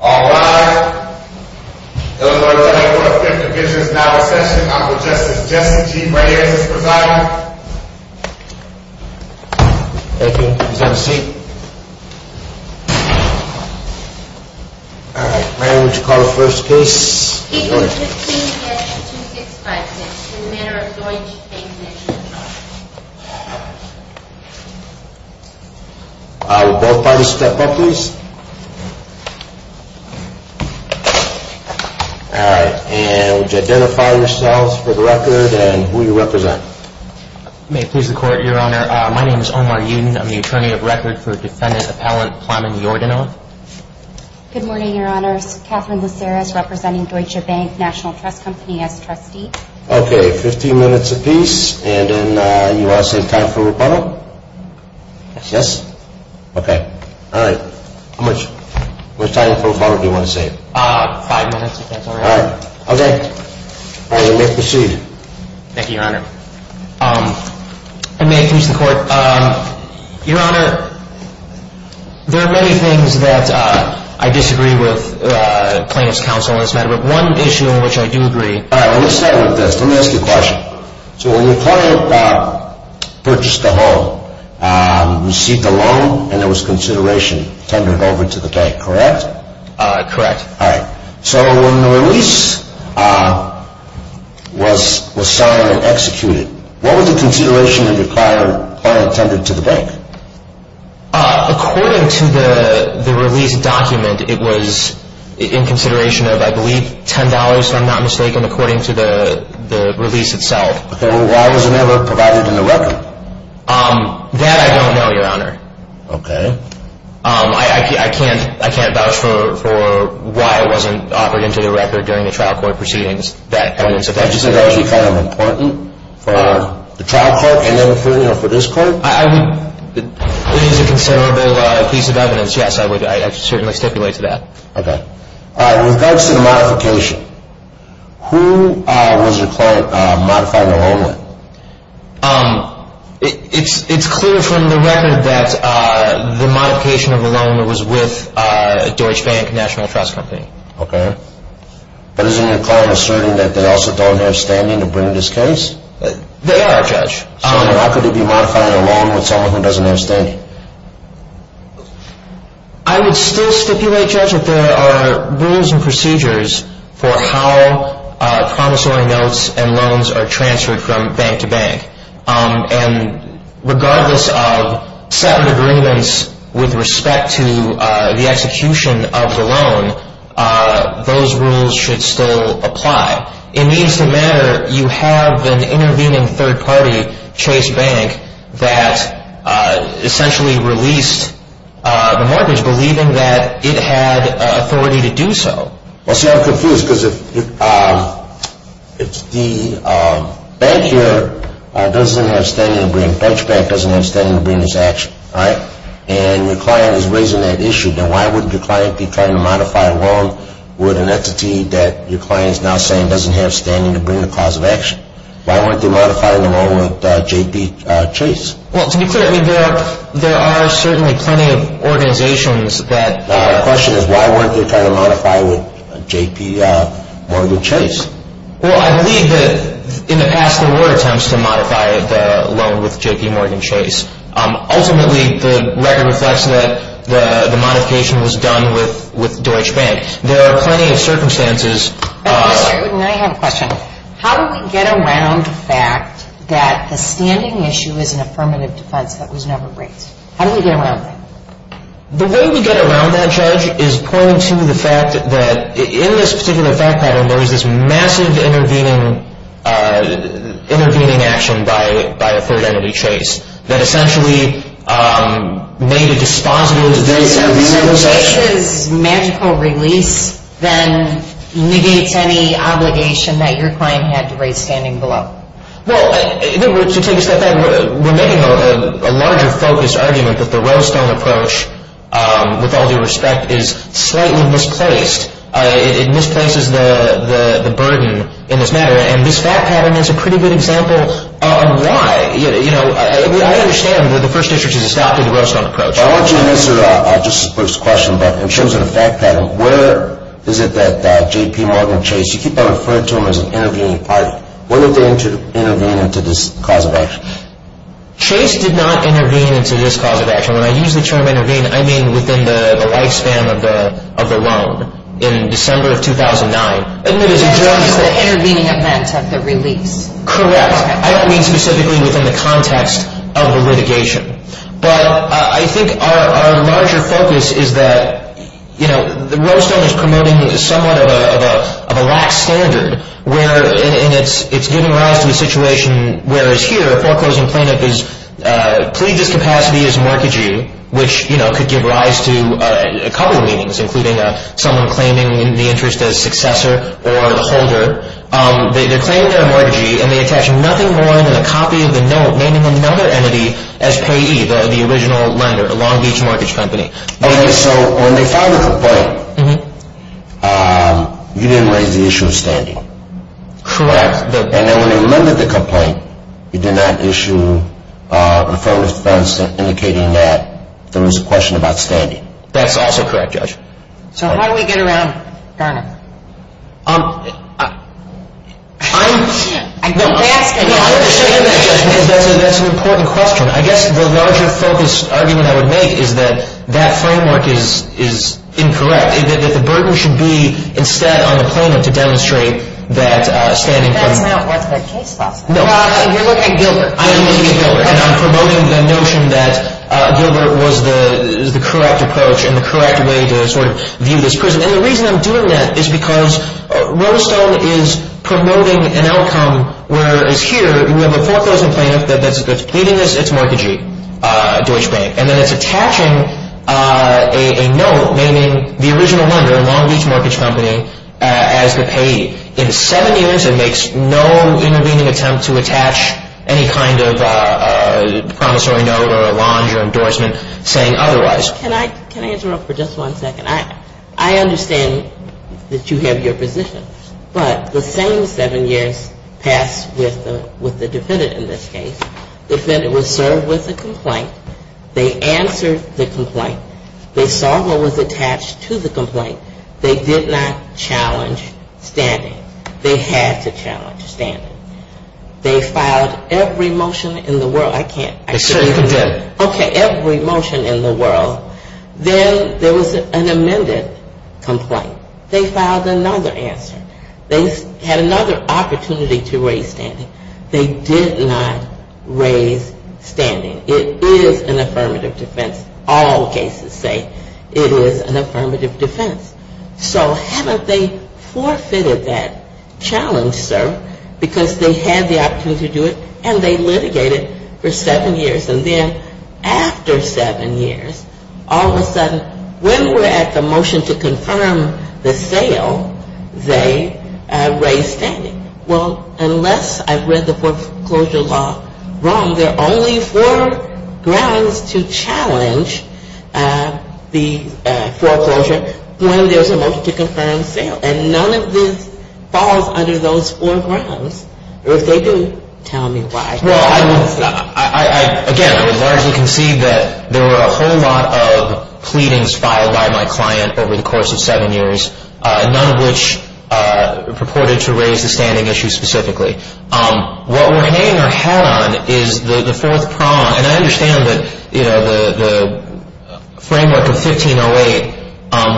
All rise. Illinois Court of Fifth Division is now in session. I will suggest that Jesse G. Reyes is presiding. Thank you. Please have a seat. All right. Mary, would you call the first case? Case number 15-265, Miss, in the matter of Doink Bank National Trust. Will both parties step up, please? All right. And would you identify yourselves for the record and who you represent? May it please the Court, Your Honor, my name is Omar Yudin. I'm the attorney of record for Defendant Appellant Plamen Iordanov. Good morning, Your Honors. Catherine Laceres, representing Deutsche Bank National Trust Company as trustee. Okay. Fifteen minutes apiece. And then you all say time for rebuttal? Yes? Okay. All right. How much time for rebuttal do you want to save? Five minutes, if that's all right. All right. Okay. All right. You may proceed. Thank you, Your Honor. And may it please the Court, Your Honor, there are many things that I disagree with plaintiff's counsel on this matter, but one issue in which I do agree. All right. Let me start with this. Let me ask you a question. So when your client purchased the home, received a loan, and there was consideration tendered over to the bank, correct? Correct. All right. So when the release was signed and executed, what was the consideration that your client tendered to the bank? According to the release document, it was in consideration of, I believe, $10, if I'm not mistaken, according to the release itself. Okay. Well, why was it never provided in the record? That I don't know, Your Honor. Okay. I can't vouch for why it wasn't offered into the record during the trial court proceedings. Did you say that was kind of important for the trial court and then for this court? It is a considerable piece of evidence, yes. I would certainly stipulate to that. Okay. With regards to the modification, who was your client modifying the loan with? It's clear from the record that the modification of the loan was with Deutsche Bank National Trust Company. Okay. But isn't your client asserting that they also don't have standing to bring this case? They are, Judge. So how could it be modifying a loan with someone who doesn't have standing? I would still stipulate, Judge, that there are rules and procedures for how promissory notes and loans are transferred from bank to bank. And regardless of settlement agreements with respect to the execution of the loan, those rules should still apply. It needs to matter you have an intervening third party, Chase Bank, that essentially released the mortgage believing that it had authority to do so. Well, see, I'm confused because if the bank here doesn't have standing to bring, Deutsche Bank doesn't have standing to bring this action, all right, and your client is raising that issue, then why wouldn't your client be trying to modify a loan with an entity that your client is now saying doesn't have standing to bring the cause of action? Why weren't they modifying the loan with JPMorgan Chase? Well, to be clear, there are certainly plenty of organizations that... The question is why weren't they trying to modify it with JPMorgan Chase? Well, I believe that in the past there were attempts to modify the loan with JPMorgan Chase. Ultimately, the record reflects that the modification was done with Deutsche Bank. There are plenty of circumstances... I have a question. How do we get around the fact that the standing issue is an affirmative defense that was never raised? How do we get around that? The way we get around that, Judge, is according to the fact that in this particular fact pattern, there is this massive intervening action by a third entity, Chase, that essentially made a dispositive decision... Chase's magical release then negates any obligation that your client had to raise standing below. Well, to take a step back, we're making a larger focus argument that the Rose Stone approach, with all due respect, is slightly misplaced. It misplaces the burden in this matter, and this fact pattern is a pretty good example of why. I understand that the First District has adopted the Rose Stone approach. I want you to answer Justice Brooks' question, but in terms of the fact pattern, where is it that JPMorgan Chase... You keep on referring to him as an intervening party. When did they intervene into this cause of action? Chase did not intervene into this cause of action. When I use the term intervene, I mean within the lifespan of the loan. In December of 2009. And that is the intervening event of the release. Correct. I don't mean specifically within the context of the litigation. But I think our larger focus is that the Rose Stone is promoting somewhat of a lax standard, and it's giving rise to a situation where, as here, foreclosing plaintiff's collegious capacity is mortgagee, which could give rise to a couple of meanings, including someone claiming the interest as successor or holder. They're claiming they're a mortgagee, and they attach nothing more than a copy of the note naming another entity as payee, the original lender, Long Beach Mortgage Company. So when they filed the complaint, you didn't raise the issue of standing. Correct. And then when they limited the complaint, you did not issue a firm defense indicating that there was a question about standing. That's also correct, Judge. So how do we get around Garner? I'm... I think that's going to... I understand that, Judge, because that's an important question. I guess the larger focus argument I would make is that that framework is incorrect. That the burden should be instead on the plaintiff to demonstrate that standing... That's not what the case law says. You're looking at Gilbert. I am looking at Gilbert, and I'm promoting the notion that Gilbert was the correct approach and the correct way to sort of view this person. And the reason I'm doing that is because Rose Stone is promoting an outcome where, as here, we have a foreclosing plaintiff that's pleading as its mortgagee, Deutsche Bank, and then it's attaching a note naming the original lender, Long Beach Mortgage Company, as the payee. In seven years, it makes no intervening attempt to attach any kind of promissory note or a loan or endorsement saying otherwise. Can I interrupt for just one second? I understand that you have your position, but the same seven years pass with the defendant in this case. The defendant was served with a complaint. They answered the complaint. They saw what was attached to the complaint. They did not challenge standing. They had to challenge standing. They filed every motion in the world. I can't... They certainly did. Okay, every motion in the world. Then there was an amended complaint. They filed another answer. They had another opportunity to raise standing. They did not raise standing. It is an affirmative defense. All cases say it is an affirmative defense. So haven't they forfeited that challenge, sir? Because they had the opportunity to do it, and they litigated for seven years. And then after seven years, all of a sudden, when we're at the motion to confirm the sale, they raise standing. Well, unless I've read the foreclosure law wrong, there are only four grounds to challenge the foreclosure when there's a motion to confirm sale. And none of this falls under those four grounds. If they do, tell me why. Well, I would... Again, I would largely concede that there were a whole lot of pleadings filed by my client over the course of seven years, none of which purported to raise the standing issue specifically. What we're hanging our hat on is the fourth prong. And I understand that, you know, the framework of 1508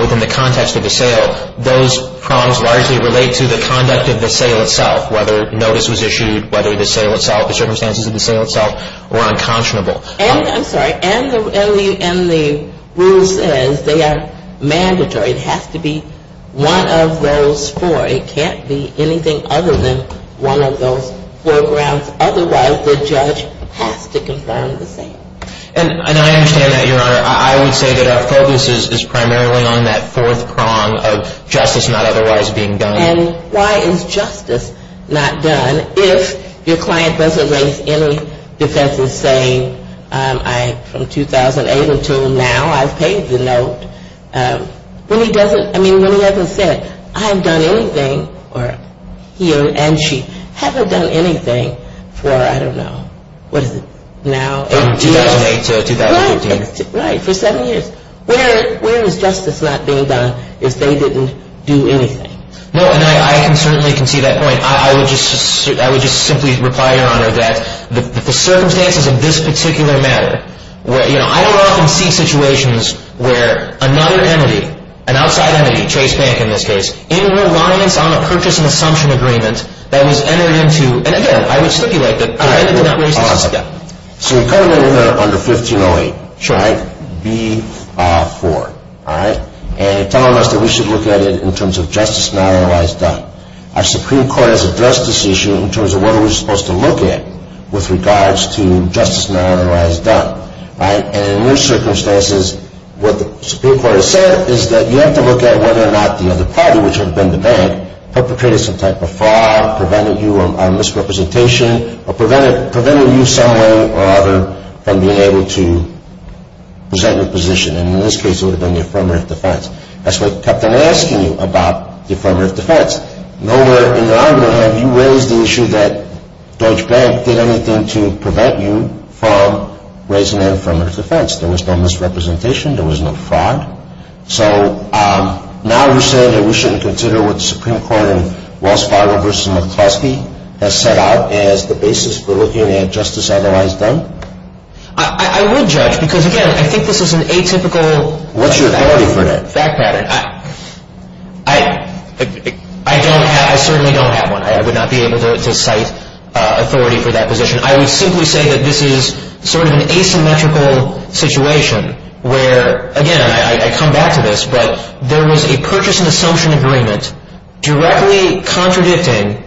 within the context of the sale, those prongs largely relate to the conduct of the sale itself, whether notice was issued, whether the sale itself, the circumstances of the sale itself were unconscionable. And, I'm sorry, and the rule says they are mandatory. It has to be one of those four. It can't be anything other than one of those four grounds. Otherwise, the judge has to confirm the sale. And I understand that, Your Honor. I would say that our focus is primarily on that fourth prong of justice not otherwise being done. And why is justice not done if your client doesn't raise any defense of saying, I, from 2008 until now, I've paid the note. When he doesn't, I mean, when he hasn't said, I haven't done anything, or he or she haven't done anything for, I don't know, what is it, now? From 2008 to 2015. Right, for seven years. Where is justice not being done if they didn't do anything? No, and I can certainly concede that point. I would just simply reply, Your Honor, that the circumstances of this particular matter, where, you know, I don't often see situations where another entity, an outside entity, Chase Bank in this case, in reliance on a purchase and assumption agreement that was entered into, and again, I would stipulate that they're ended in that way. All right, hold on a second. So you're covering under 1508, right? B-4, all right? And you're telling us that we should look at it in terms of justice not otherwise done. Our Supreme Court has addressed this issue in terms of what are we supposed to look at with regards to justice not otherwise done, right? And in those circumstances, what the Supreme Court has said is that you have to look at whether or not the other party, which would have been the bank, perpetrated some type of fraud, prevented you on misrepresentation, or prevented you some way or other from being able to present your position. And in this case, it would have been the affirmative defense. That's what I kept on asking you about the affirmative defense. Nowhere in the argument have you raised the issue that Deutsche Bank did anything to prevent you from raising an affirmative defense. There was no misrepresentation. There was no fraud. So now you're saying that we shouldn't consider what the Supreme Court in Wells Fargo v. McCluskey has set out as the basis for looking at justice otherwise done? I would judge, because again, I think this is an atypical fact pattern. What's your authority for that? It's an atypical fact pattern. I don't have, I certainly don't have one. I would not be able to cite authority for that position. I would simply say that this is sort of an asymmetrical situation where, again, I come back to this, but there was a purchase and assumption agreement directly contradicting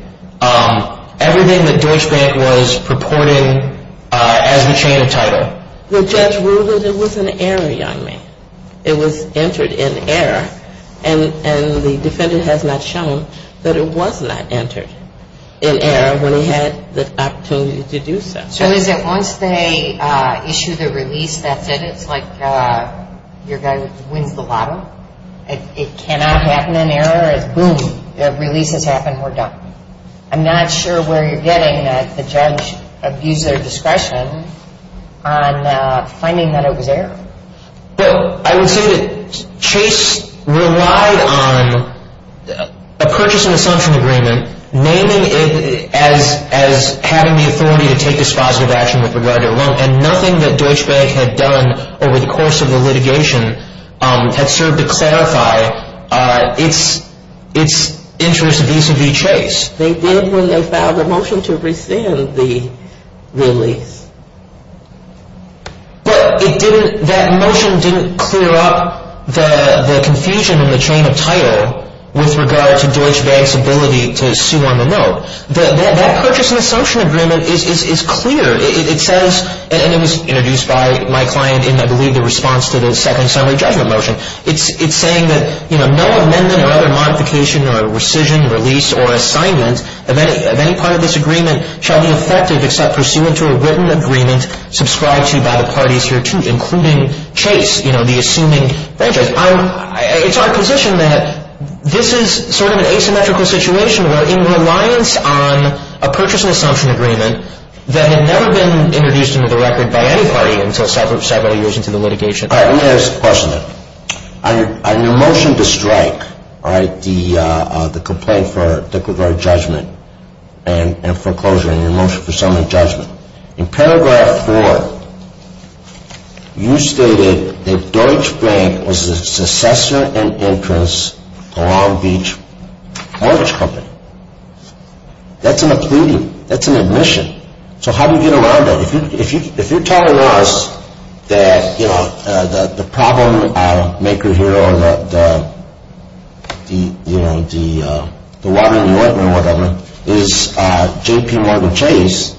everything that Deutsche Bank was purporting as the chain of title. The judge ruled that it was an error on me. It was entered in error. And the defendant has not shown that it was not entered in error when he had the opportunity to do so. So is it once they issue the release, that's it? It's like your guy wins the lotto? It cannot happen in error? It's boom, release has happened, we're done. I'm not sure where you're getting that the judge abused their discretion on finding that it was error. But I would say that Chase relied on a purchase and assumption agreement naming it as having the authority to take this positive action with regard to a loan and nothing that Deutsche Bank had done over the course of the litigation had served to clarify its interest vis-a-vis Chase. They did when they filed a motion to rescind the release. But that motion didn't clear up the confusion in the chain of title with regard to Deutsche Bank's ability to sue on the loan. That purchase and assumption agreement is clear. It says, and it was introduced by my client in, I believe, the response to the second summary judgment motion. It's saying that, you know, no amendment or other modification or rescission, release, or assignment of any part of this agreement shall be effective except pursuant to a written agreement subscribed to by the parties here too, including Chase, you know, the assuming franchise. I'm, it's our position that this is sort of an asymmetrical situation where in reliance on a purchase and assumption agreement that had never been introduced into the record by any party until several years into the litigation. All right, let me ask a question then. On your motion to strike, all right, the complaint for, in particular, judgment and foreclosure and your motion for summary judgment. In paragraph four, you stated that Deutsche Bank was a successor and entrance to Long Beach Mortgage Company. That's an obliging, that's an admission. So how do you get around that? If you're telling us that, you know, the problem maker here or the, you know, the water in the ointment or whatever is J.P. Morgan Chase,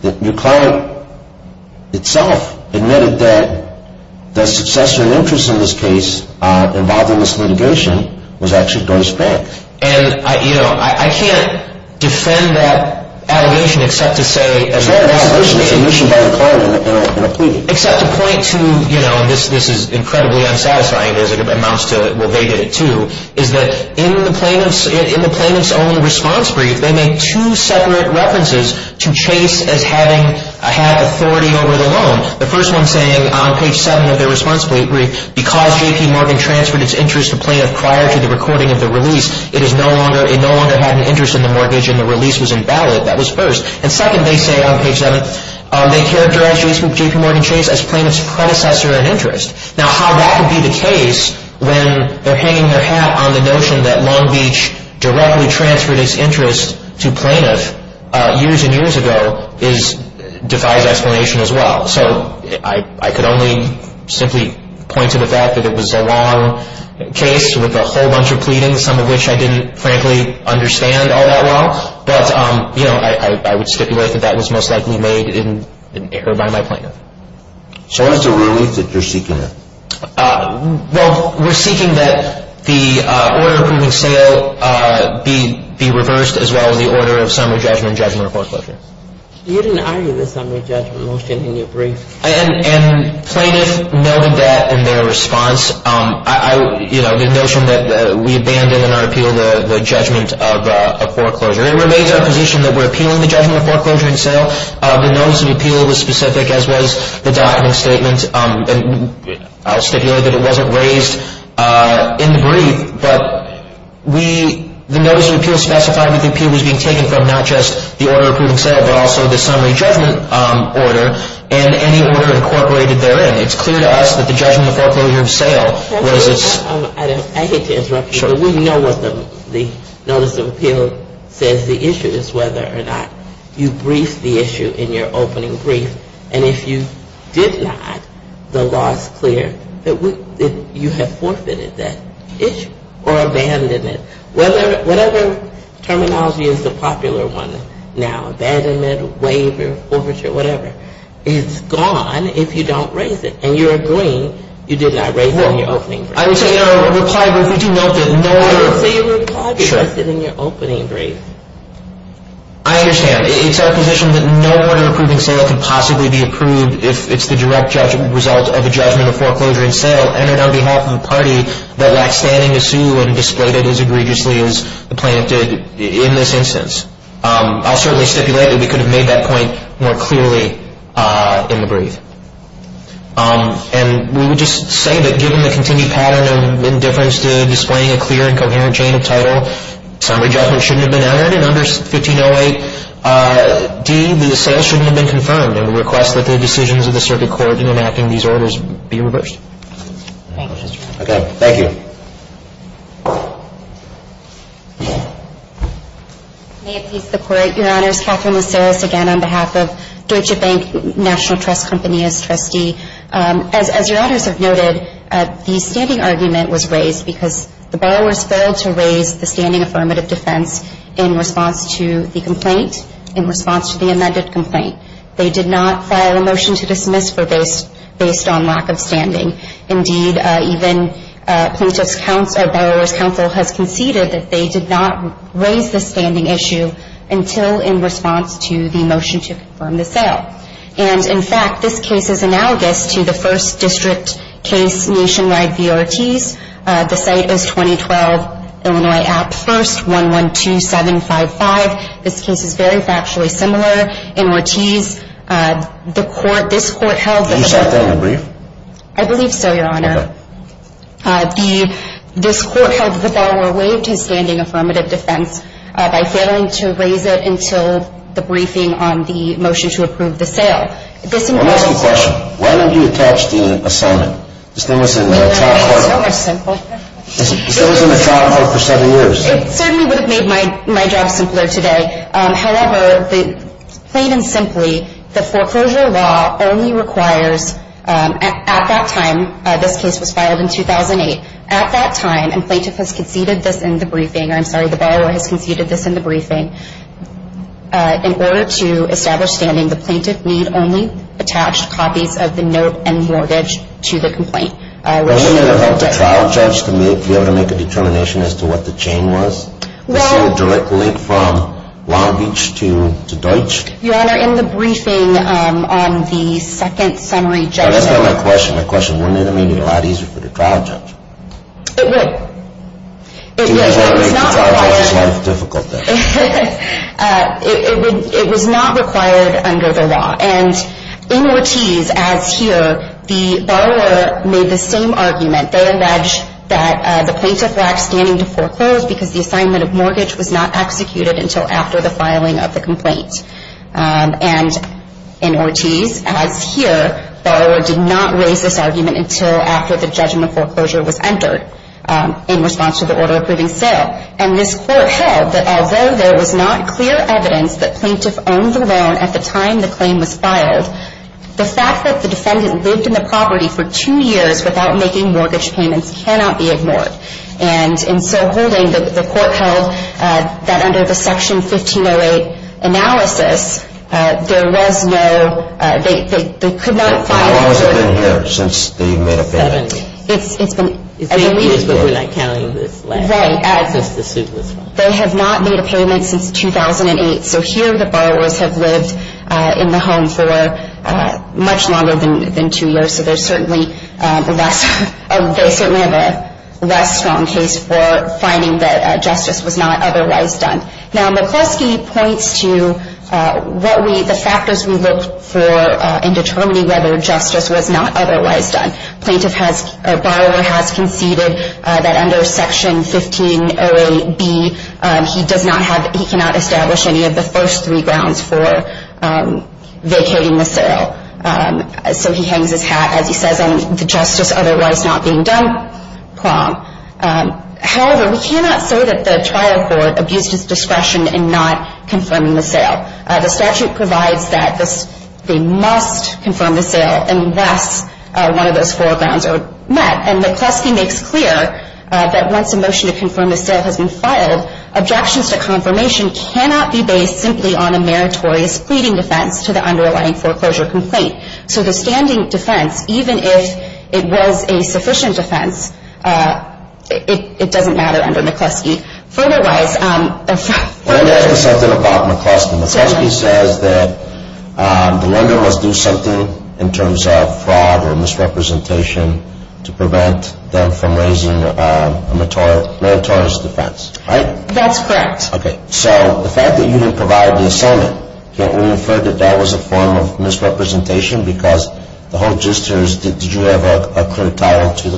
that McLaren itself admitted that the successor and entrance in this case involved in this litigation was actually Deutsche Bank. And, you know, I can't defend that allegation except to say It's an admission by McLaren in a plea. Except to point to, you know, this is incredibly unsatisfying as it amounts to, well, they did it too, is that in the plaintiff's own response brief, they made two separate references to Chase as having authority over the loan. The first one saying on page seven of their response brief, because J.P. Morgan transferred its interest to plaintiff prior to the recording of the release, it no longer had an interest in the mortgage and the release was invalid. That was first. And second, they say on page seven, they characterize J.P. Morgan Chase as plaintiff's predecessor in interest. Now, how that would be the case when they're hanging their hat on the notion that Long Beach directly transferred its interest to plaintiff years and years ago defies explanation as well. So I could only simply point to the fact that it was a long case with a whole bunch of pleadings, some of which I didn't frankly understand all that well. But, you know, I would stipulate that that was most likely made in error by my plaintiff. So what is the release that you're seeking? Well, we're seeking that the order of opening sale be reversed as well as the order of summary judgment and judgment of foreclosure. You didn't argue the summary judgment motion in your brief. And plaintiff noted that in their response, you know, the notion that we abandoned in our appeal the judgment of foreclosure and it remains our position that we're appealing the judgment of foreclosure and sale. The notice of appeal was specific as was the document statement. And I'll stipulate that it wasn't raised in the brief. But we, the notice of appeal specified that the appeal was being taken from not just the order of opening sale but also the summary judgment order and any order incorporated therein. It's clear to us that the judgment of foreclosure and sale was its. I hate to interrupt you. But we know what the notice of appeal says. The issue is whether or not you briefed the issue in your opening brief. And if you did not, the law is clear that you have forfeited that issue or abandoned it. Whatever terminology is the popular one now, abandonment, waiver, forfeiture, whatever, it's gone if you don't raise it. And you're agreeing you did not raise it in your opening brief. I would say in our reply brief, we do note that no one... I would say your reply brief is in your opening brief. I understand. It's our position that no order of approving sale can possibly be approved if it's the direct result of a judgment of foreclosure and sale entered on behalf of a party that lacks standing to sue and displayed it as egregiously as the plaintiff did in this instance. I'll certainly stipulate that we could have made that point more clearly in the brief. And we would just say that given the continued pattern of indifference to displaying a clear and coherent chain of title, summary judgment shouldn't have been entered in under 1508D, the sale shouldn't have been confirmed. And we request that the decisions of the circuit court in enacting these orders be reversed. Thank you. May it please the Court, Your Honors, I'm Katherine Laceris again on behalf of Deutsche Bank National Trust Company as trustee. As Your Honors have noted, the standing argument was raised because the borrowers failed to raise the standing affirmative defense in response to the complaint, in response to the amended complaint. They did not file a motion to dismiss based on lack of standing. Indeed, even plaintiff's counsel or borrower's counsel has conceded that they did not raise the standing issue until in response to the motion to confirm the sale. And in fact, this case is analogous to the first district case nationwide v. Ortiz. The site is 2012 Illinois App 1st, 112755. This case is very factually similar. In Ortiz, the court, this court held that the borrower Did you cite that in the brief? I believe so, Your Honor. Okay. This court held that the borrower waived his standing affirmative defense by failing to raise it until the briefing on the motion to approve the sale. Let me ask you a question. Why don't you attach the assignment? This thing was in the trial court. It's so much simpler. This thing was in the trial court for seven years. It certainly would have made my job simpler today. However, plain and simply, the foreclosure law only requires at that time, this case was filed in 2008, at that time, and plaintiff has conceded this in the briefing, or I'm sorry, the borrower has conceded this in the briefing, in order to establish standing, the plaintiff need only attach copies of the note and mortgage to the complaint. Wouldn't it have helped the trial judge to be able to make a determination as to what the chain was? The sale directly from Long Beach to Deutsch? Your Honor, in the briefing on the second summary judgment. Now, that's not my question. My question, wouldn't it have made it a lot easier for the trial judge? It would. It would, but it's not required. It was not required under the law. And in Ortiz, as here, the borrower made the same argument. They allege that the plaintiff lacked standing to foreclose because the assignment of mortgage was not executed until after the filing of the complaint. And in Ortiz, as here, borrower did not raise this argument until after the judgment foreclosure was entered in response to the order approving sale. And this court held that although there was not clear evidence that plaintiff owned the loan at the time the claim was filed, the fact that the defendant lived in the property for two years without making mortgage payments cannot be ignored. And in so holding, the court held that under the Section 1508 analysis, there was no, they could not file. How long has it been here since they made a payment? Seven years. It's been eight years, but we're not counting the last. Right. Just the suitless one. They have not made a payment since 2008, so here the borrowers have lived in the home for much longer than two years, so they certainly have a less strong case for finding that justice was not otherwise done. Now, McCloskey points to what we, the factors we look for in determining whether justice was not otherwise done. Plaintiff has, or borrower has conceded that under Section 1508B, he does not have, he cannot establish any of the first three grounds for vacating the sale. So he hangs his hat, as he says, on the justice otherwise not being done problem. However, we cannot say that the trial court abused its discretion in not confirming the sale. The statute provides that they must confirm the sale unless one of those four grounds are met, and McCloskey makes clear that once a motion to confirm the sale has been filed, objections to confirmation cannot be based simply on a meritorious pleading defense to the underlying foreclosure complaint. So the standing defense, even if it was a sufficient defense, it doesn't matter under McCloskey. Furtherwise... Let me ask you something about McCloskey. McCloskey says that the lender must do something in terms of fraud or misrepresentation to prevent them from raising a meritorious defense, right? That's correct. Okay, so the fact that you didn't provide the assignment, can't we infer that that was a form of misrepresentation because the whole gist here is, did you have a clear title to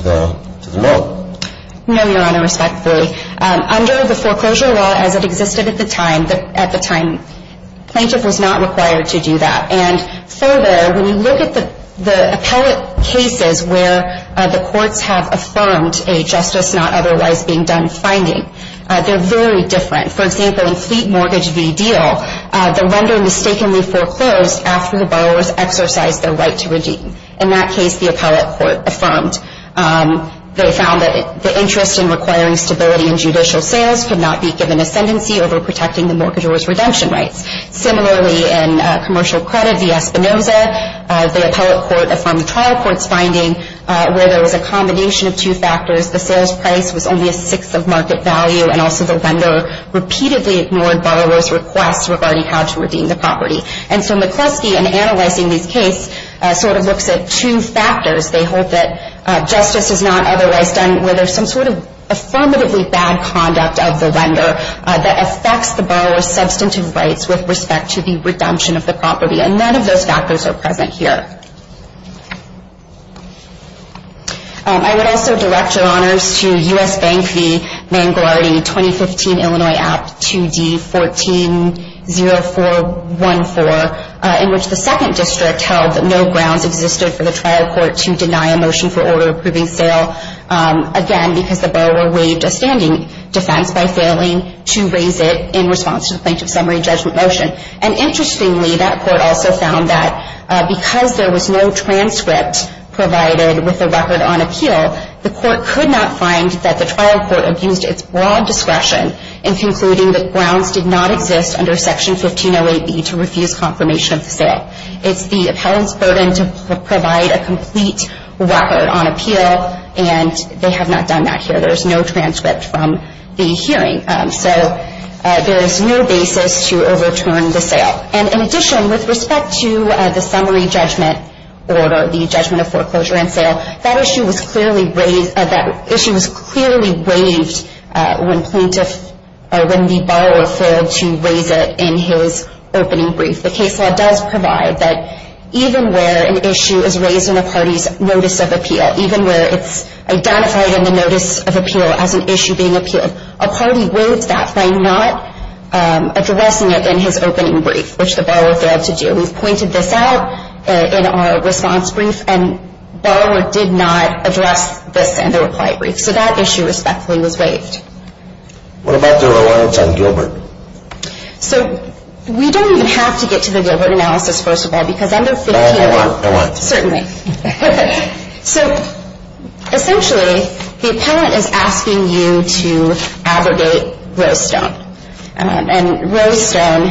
the note? No, Your Honor, respectfully. Under the foreclosure law as it existed at the time, the plaintiff was not required to do that. And further, when you look at the appellate cases where the courts have affirmed a justice not otherwise being done finding, they're very different. For example, in Fleet Mortgage v. Deal, the lender mistakenly foreclosed after the borrowers exercised their right to redeem. In that case, the appellate court affirmed. They found that the interest in requiring stability in judicial sales could not be given ascendancy over protecting the mortgagor's redemption rights. Similarly, in Commercial Credit v. Espinoza, the appellate court affirmed the trial court's finding where there was a combination of two factors. The sales price was only a sixth of market value, and also the lender repeatedly ignored borrowers' requests regarding how to redeem the property. And so McCloskey, in analyzing these cases, sort of looks at two factors. They hold that justice is not otherwise done where there's some sort of affirmatively bad conduct of the lender that affects the borrower's substantive rights with respect to the redemption of the property. And none of those factors are present here. I would also direct your honors to U.S. Bank v. Manguardi 2015 Illinois Act 2D-140414, in which the second district held that no grounds existed for the trial court to deny a motion for order approving sale, again, because the borrower waived a standing defense by failing to raise it in response to the plaintiff's summary judgment motion. And interestingly, that court also found that because there was no transcript provided with the record on appeal, the court could not find that the trial court abused its broad discretion in concluding that grounds did not exist under Section 1508B to refuse confirmation of the sale. It's the appellant's burden to provide a complete record on appeal, and they have not done that here. There's no transcript from the hearing. So there is no basis to overturn the sale. And in addition, with respect to the summary judgment order, the judgment of foreclosure and sale, that issue was clearly waived when the borrower failed to raise it in his opening brief. The case law does provide that even where an issue is raised in a party's notice of appeal, even where it's identified in the notice of appeal as an issue being appealed, a party waives that by not addressing it in his opening brief, which the borrower failed to do. We've pointed this out in our response brief, and the borrower did not address this in the reply brief. So that issue respectfully was waived. What about the reliance on Gilbert? So we don't even have to get to the Gilbert analysis, first of all, because under 15... Oh, go on, go on. Certainly. So essentially, the appellant is asking you to abrogate Rose Stone. And Rose Stone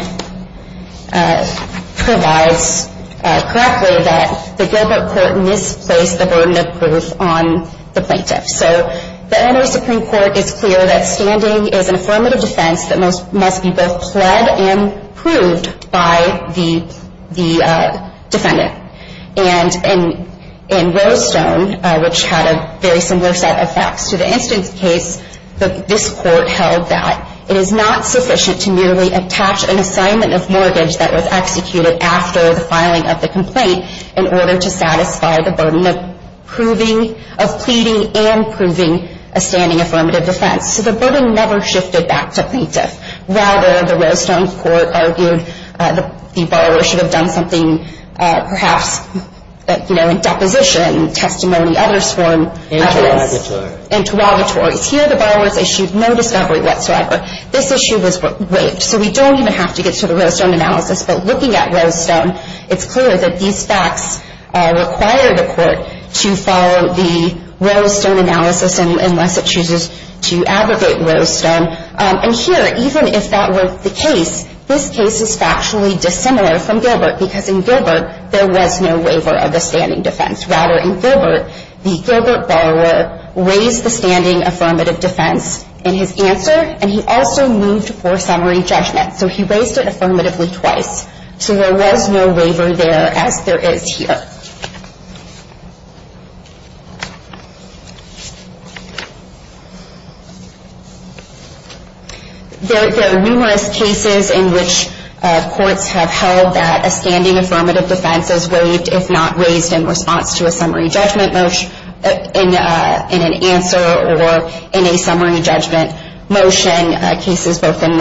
provides correctly that the Gilbert court misplaced the burden of proof on the plaintiff. So the inner Supreme Court is clear that standing is an affirmative defense that must be both pled and proved by the defendant. And in Rose Stone, which had a very similar set of facts to the instance case, this court held that it is not sufficient to merely attach an assignment of mortgage that was executed after the filing of the complaint in order to satisfy the burden of pleading and proving a standing affirmative defense. So the burden never shifted back to plaintiff. Rather, the Rose Stone court argued the borrower should have done something, perhaps, you know, in deposition, testimony, others form... Interrogatories. Interrogatories. Here, the borrower's issued no discovery whatsoever. This issue was waived. So we don't even have to get to the Rose Stone analysis, but looking at Rose Stone, it's clear that these facts require the court to follow the Rose Stone analysis unless it chooses to abrogate Rose Stone. And here, even if that were the case, this case is factually dissimilar from Gilbert, because in Gilbert, there was no waiver of the standing defense. Rather, in Gilbert, the Gilbert borrower raised the standing affirmative defense in his answer, and he also moved for summary judgment. So he raised it affirmatively twice. So there was no waiver there, as there is here. There are numerous cases in which courts have held that a standing affirmative defense is waived, if not raised in response to a summary judgment motion, in an answer, or in a summary judgment motion. Cases both in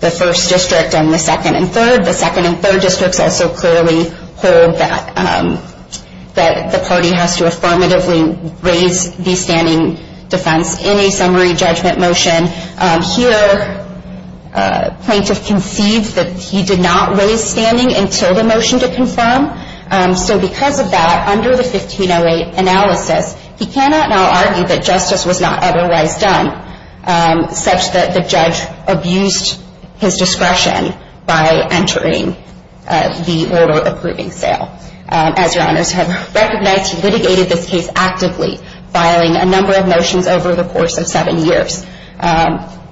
the first district and the second and third. The second and third districts also clearly hold that the party has to affirmatively raise the standing affirmative defense in a summary judgment motion. Here, plaintiff conceived that he did not raise standing until the motion to confirm. So because of that, under the 1508 analysis, he cannot now argue that justice was not otherwise done, such that the judge abused his discretion by entering the order approving sale. As your honors have recognized, he litigated this case actively, including motions, over the course of seven years,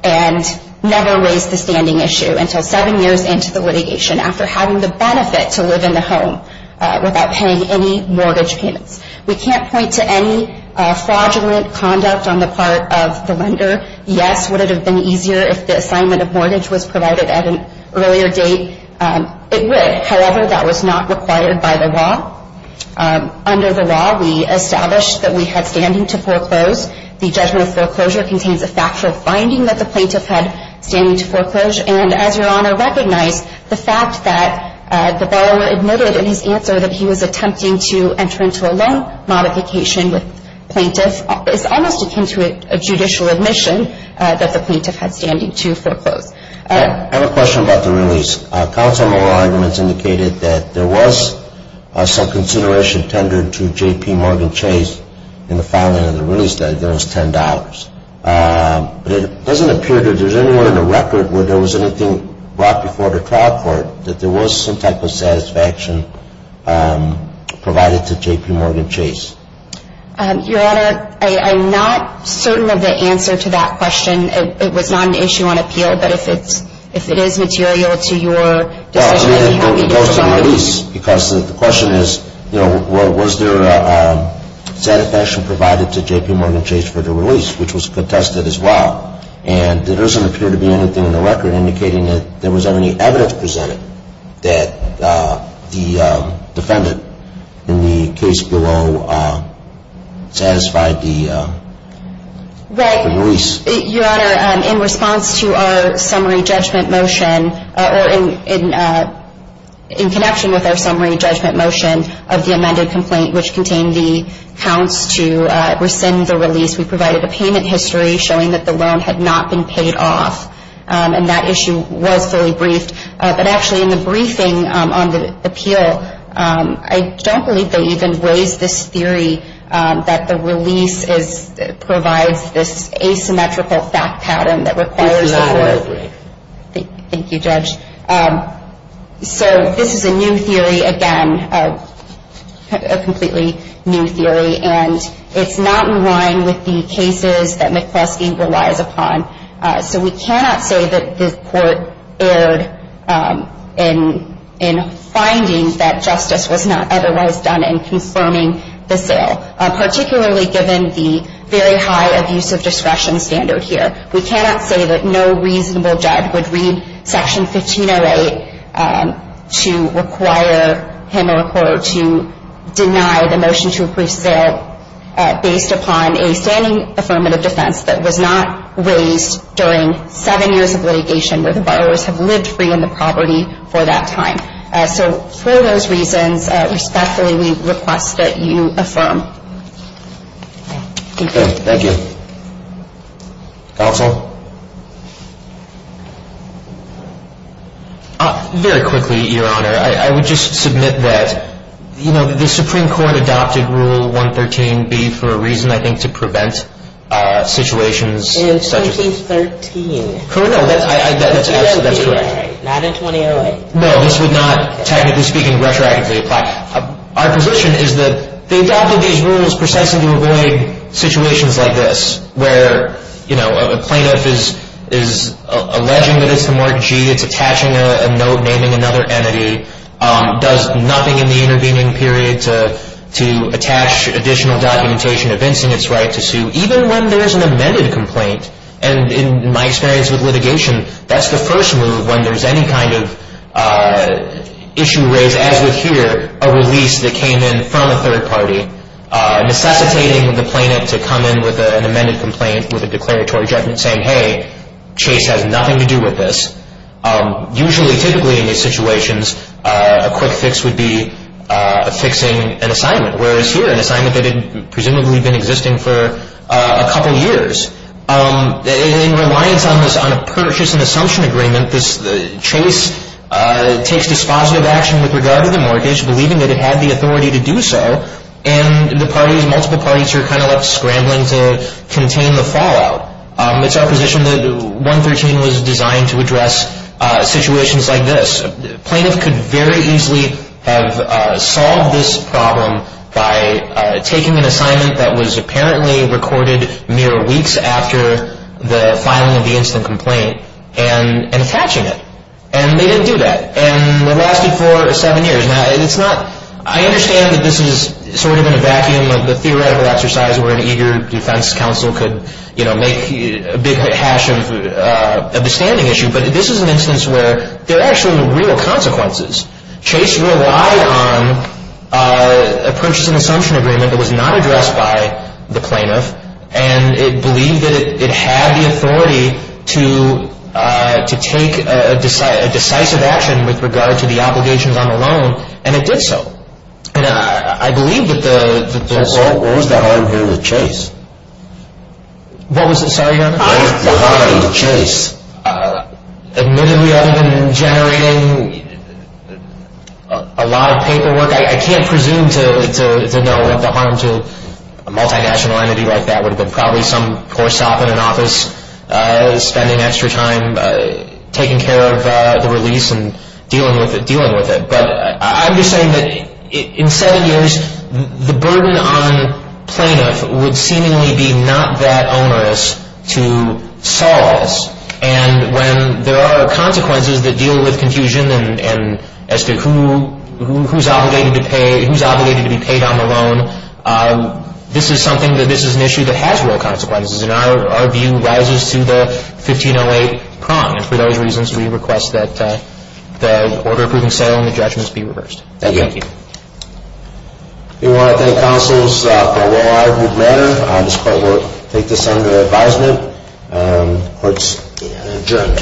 and never raised the standing issue until seven years into the litigation, after having the benefit to live in the home without paying any mortgage payments. We can't point to any fraudulent conduct on the part of the lender. Yes, would it have been easier if the assignment of mortgage It would. However, that was not required by the law. Under the law, the judgment of foreclosure contains a factual finding that the plaintiff had standing to foreclose, and as your honor recognized, the fact that the borrower admitted in his answer that he was attempting to enter into a loan modification with plaintiff is almost akin to a judicial admission that the plaintiff had standing to foreclose. I have a question about the release. Council member arguments indicated that there was some consideration tendered to J.P. Morgan Chase for $10, but it doesn't appear that there's anywhere in the record where there was anything brought before the trial court that there was some type of satisfaction provided to J.P. Morgan Chase. Your honor, I'm not certain of the answer to that question. It was not an issue on appeal, but if it is material to your decision, Well, I mean, it goes to release because the question is, if it is material to release, which was contested as well, and there doesn't appear to be anything in the record indicating that there was any evidence presented that the defendant in the case below satisfied the release. Right. Your honor, in response to our summary judgment motion, or in connection with our summary judgment motion of the amended complaint which contained the counts to rescind the release, we provided a payment history showing that the loan had not been paid off, and that issue was fully briefed, but actually in the briefing on the appeal, I don't believe they even raised this theory that the release provides this asymmetrical fact pattern that requires Thank you, Judge. So this is a new theory, again, a completely new theory, and it's not in line with the cases that McCloskey relies upon. So we cannot say that this court erred in finding that justice was not otherwise done in confirming the sale, particularly given the very high abuse of discretion standard here. We cannot say that no reasonable judge would read Section 1508 to require him or a court to deny the motion to approve sale based upon a standing affirmative defense that was not raised during seven years of litigation where the borrowers have lived free in the property for that time. So for those reasons, respectfully, we request that you affirm. Thank you. Thank you. Counsel? Very quickly, Your Honor. I would just submit that, you know, the Supreme Court adopted Rule 113B for a reason, I think, to prevent situations such as In 2013. No, that's correct. Not in 2008. No, this would not, technically speaking, retroactively apply. Our position is that they adopted these rules precisely to avoid situations like this where, you know, a plaintiff is alleging that it's a Mark G, it's attaching a note naming another entity, does nothing in the intervening period to attach additional documentation evincing its right to sue, even when there's an amended complaint. And in my experience with litigation, that's the first move when there's any kind of issue raised, as with here, a release that came in from a third party necessitating the plaintiff to come in with an amended complaint with a declaratory judgment saying, hey, Chase has nothing to do with this. Usually, typically, in these situations, a quick fix would be fixing an assignment, whereas here, an assignment that had presumably been existing for a couple years. In reliance on this, on a purchase and assumption agreement, Chase takes dispositive action with regard to the mortgage, believing that it had the authority to do so, and the parties, multiple parties are kind of left scrambling to contain the fallout. It's our position that 113 was designed to address situations like this. A plaintiff could very easily have solved this problem by taking an assignment that was apparently recorded mere weeks after the filing of the instant complaint and attaching it. And they didn't do that. And it lasted for seven years. Now, it's not, I understand that this is sort of in a vacuum of the theoretical exercise where an eager defense counsel could, you know, make a big hash of the standing issue, but this is an instance where there are actually real consequences. Chase relied on a purchase and assumption agreement that was not addressed by the plaintiff, and it believed that it had the authority to take a decisive action with regard to the obligations on the loan, and it did so. And I believe that the... So what was the argument with Chase? What was the... Sorry, Your Honor? With regard to Chase, admittedly, other than generating a lot of paperwork, I can't presume to know what the harm to a multinational entity like that would have been. Probably some poor sop in an office spending extra time taking care of the release and dealing with it, dealing with it. But I'm just saying that in seven years, the burden on plaintiff would seemingly be not that onerous to solve, and when there are consequences that deal with confusion and as to who's obligated to pay, who's obligated to be paid on the loan, this is something that this is an issue that has real consequences, and our view rises to the 1508 prong, and for those reasons we request that the order approving settle and the judgment be reversed. Thank you. We want to thank all the counsels for a long, arduous matter. This court will take this under advisement. Court is adjourned.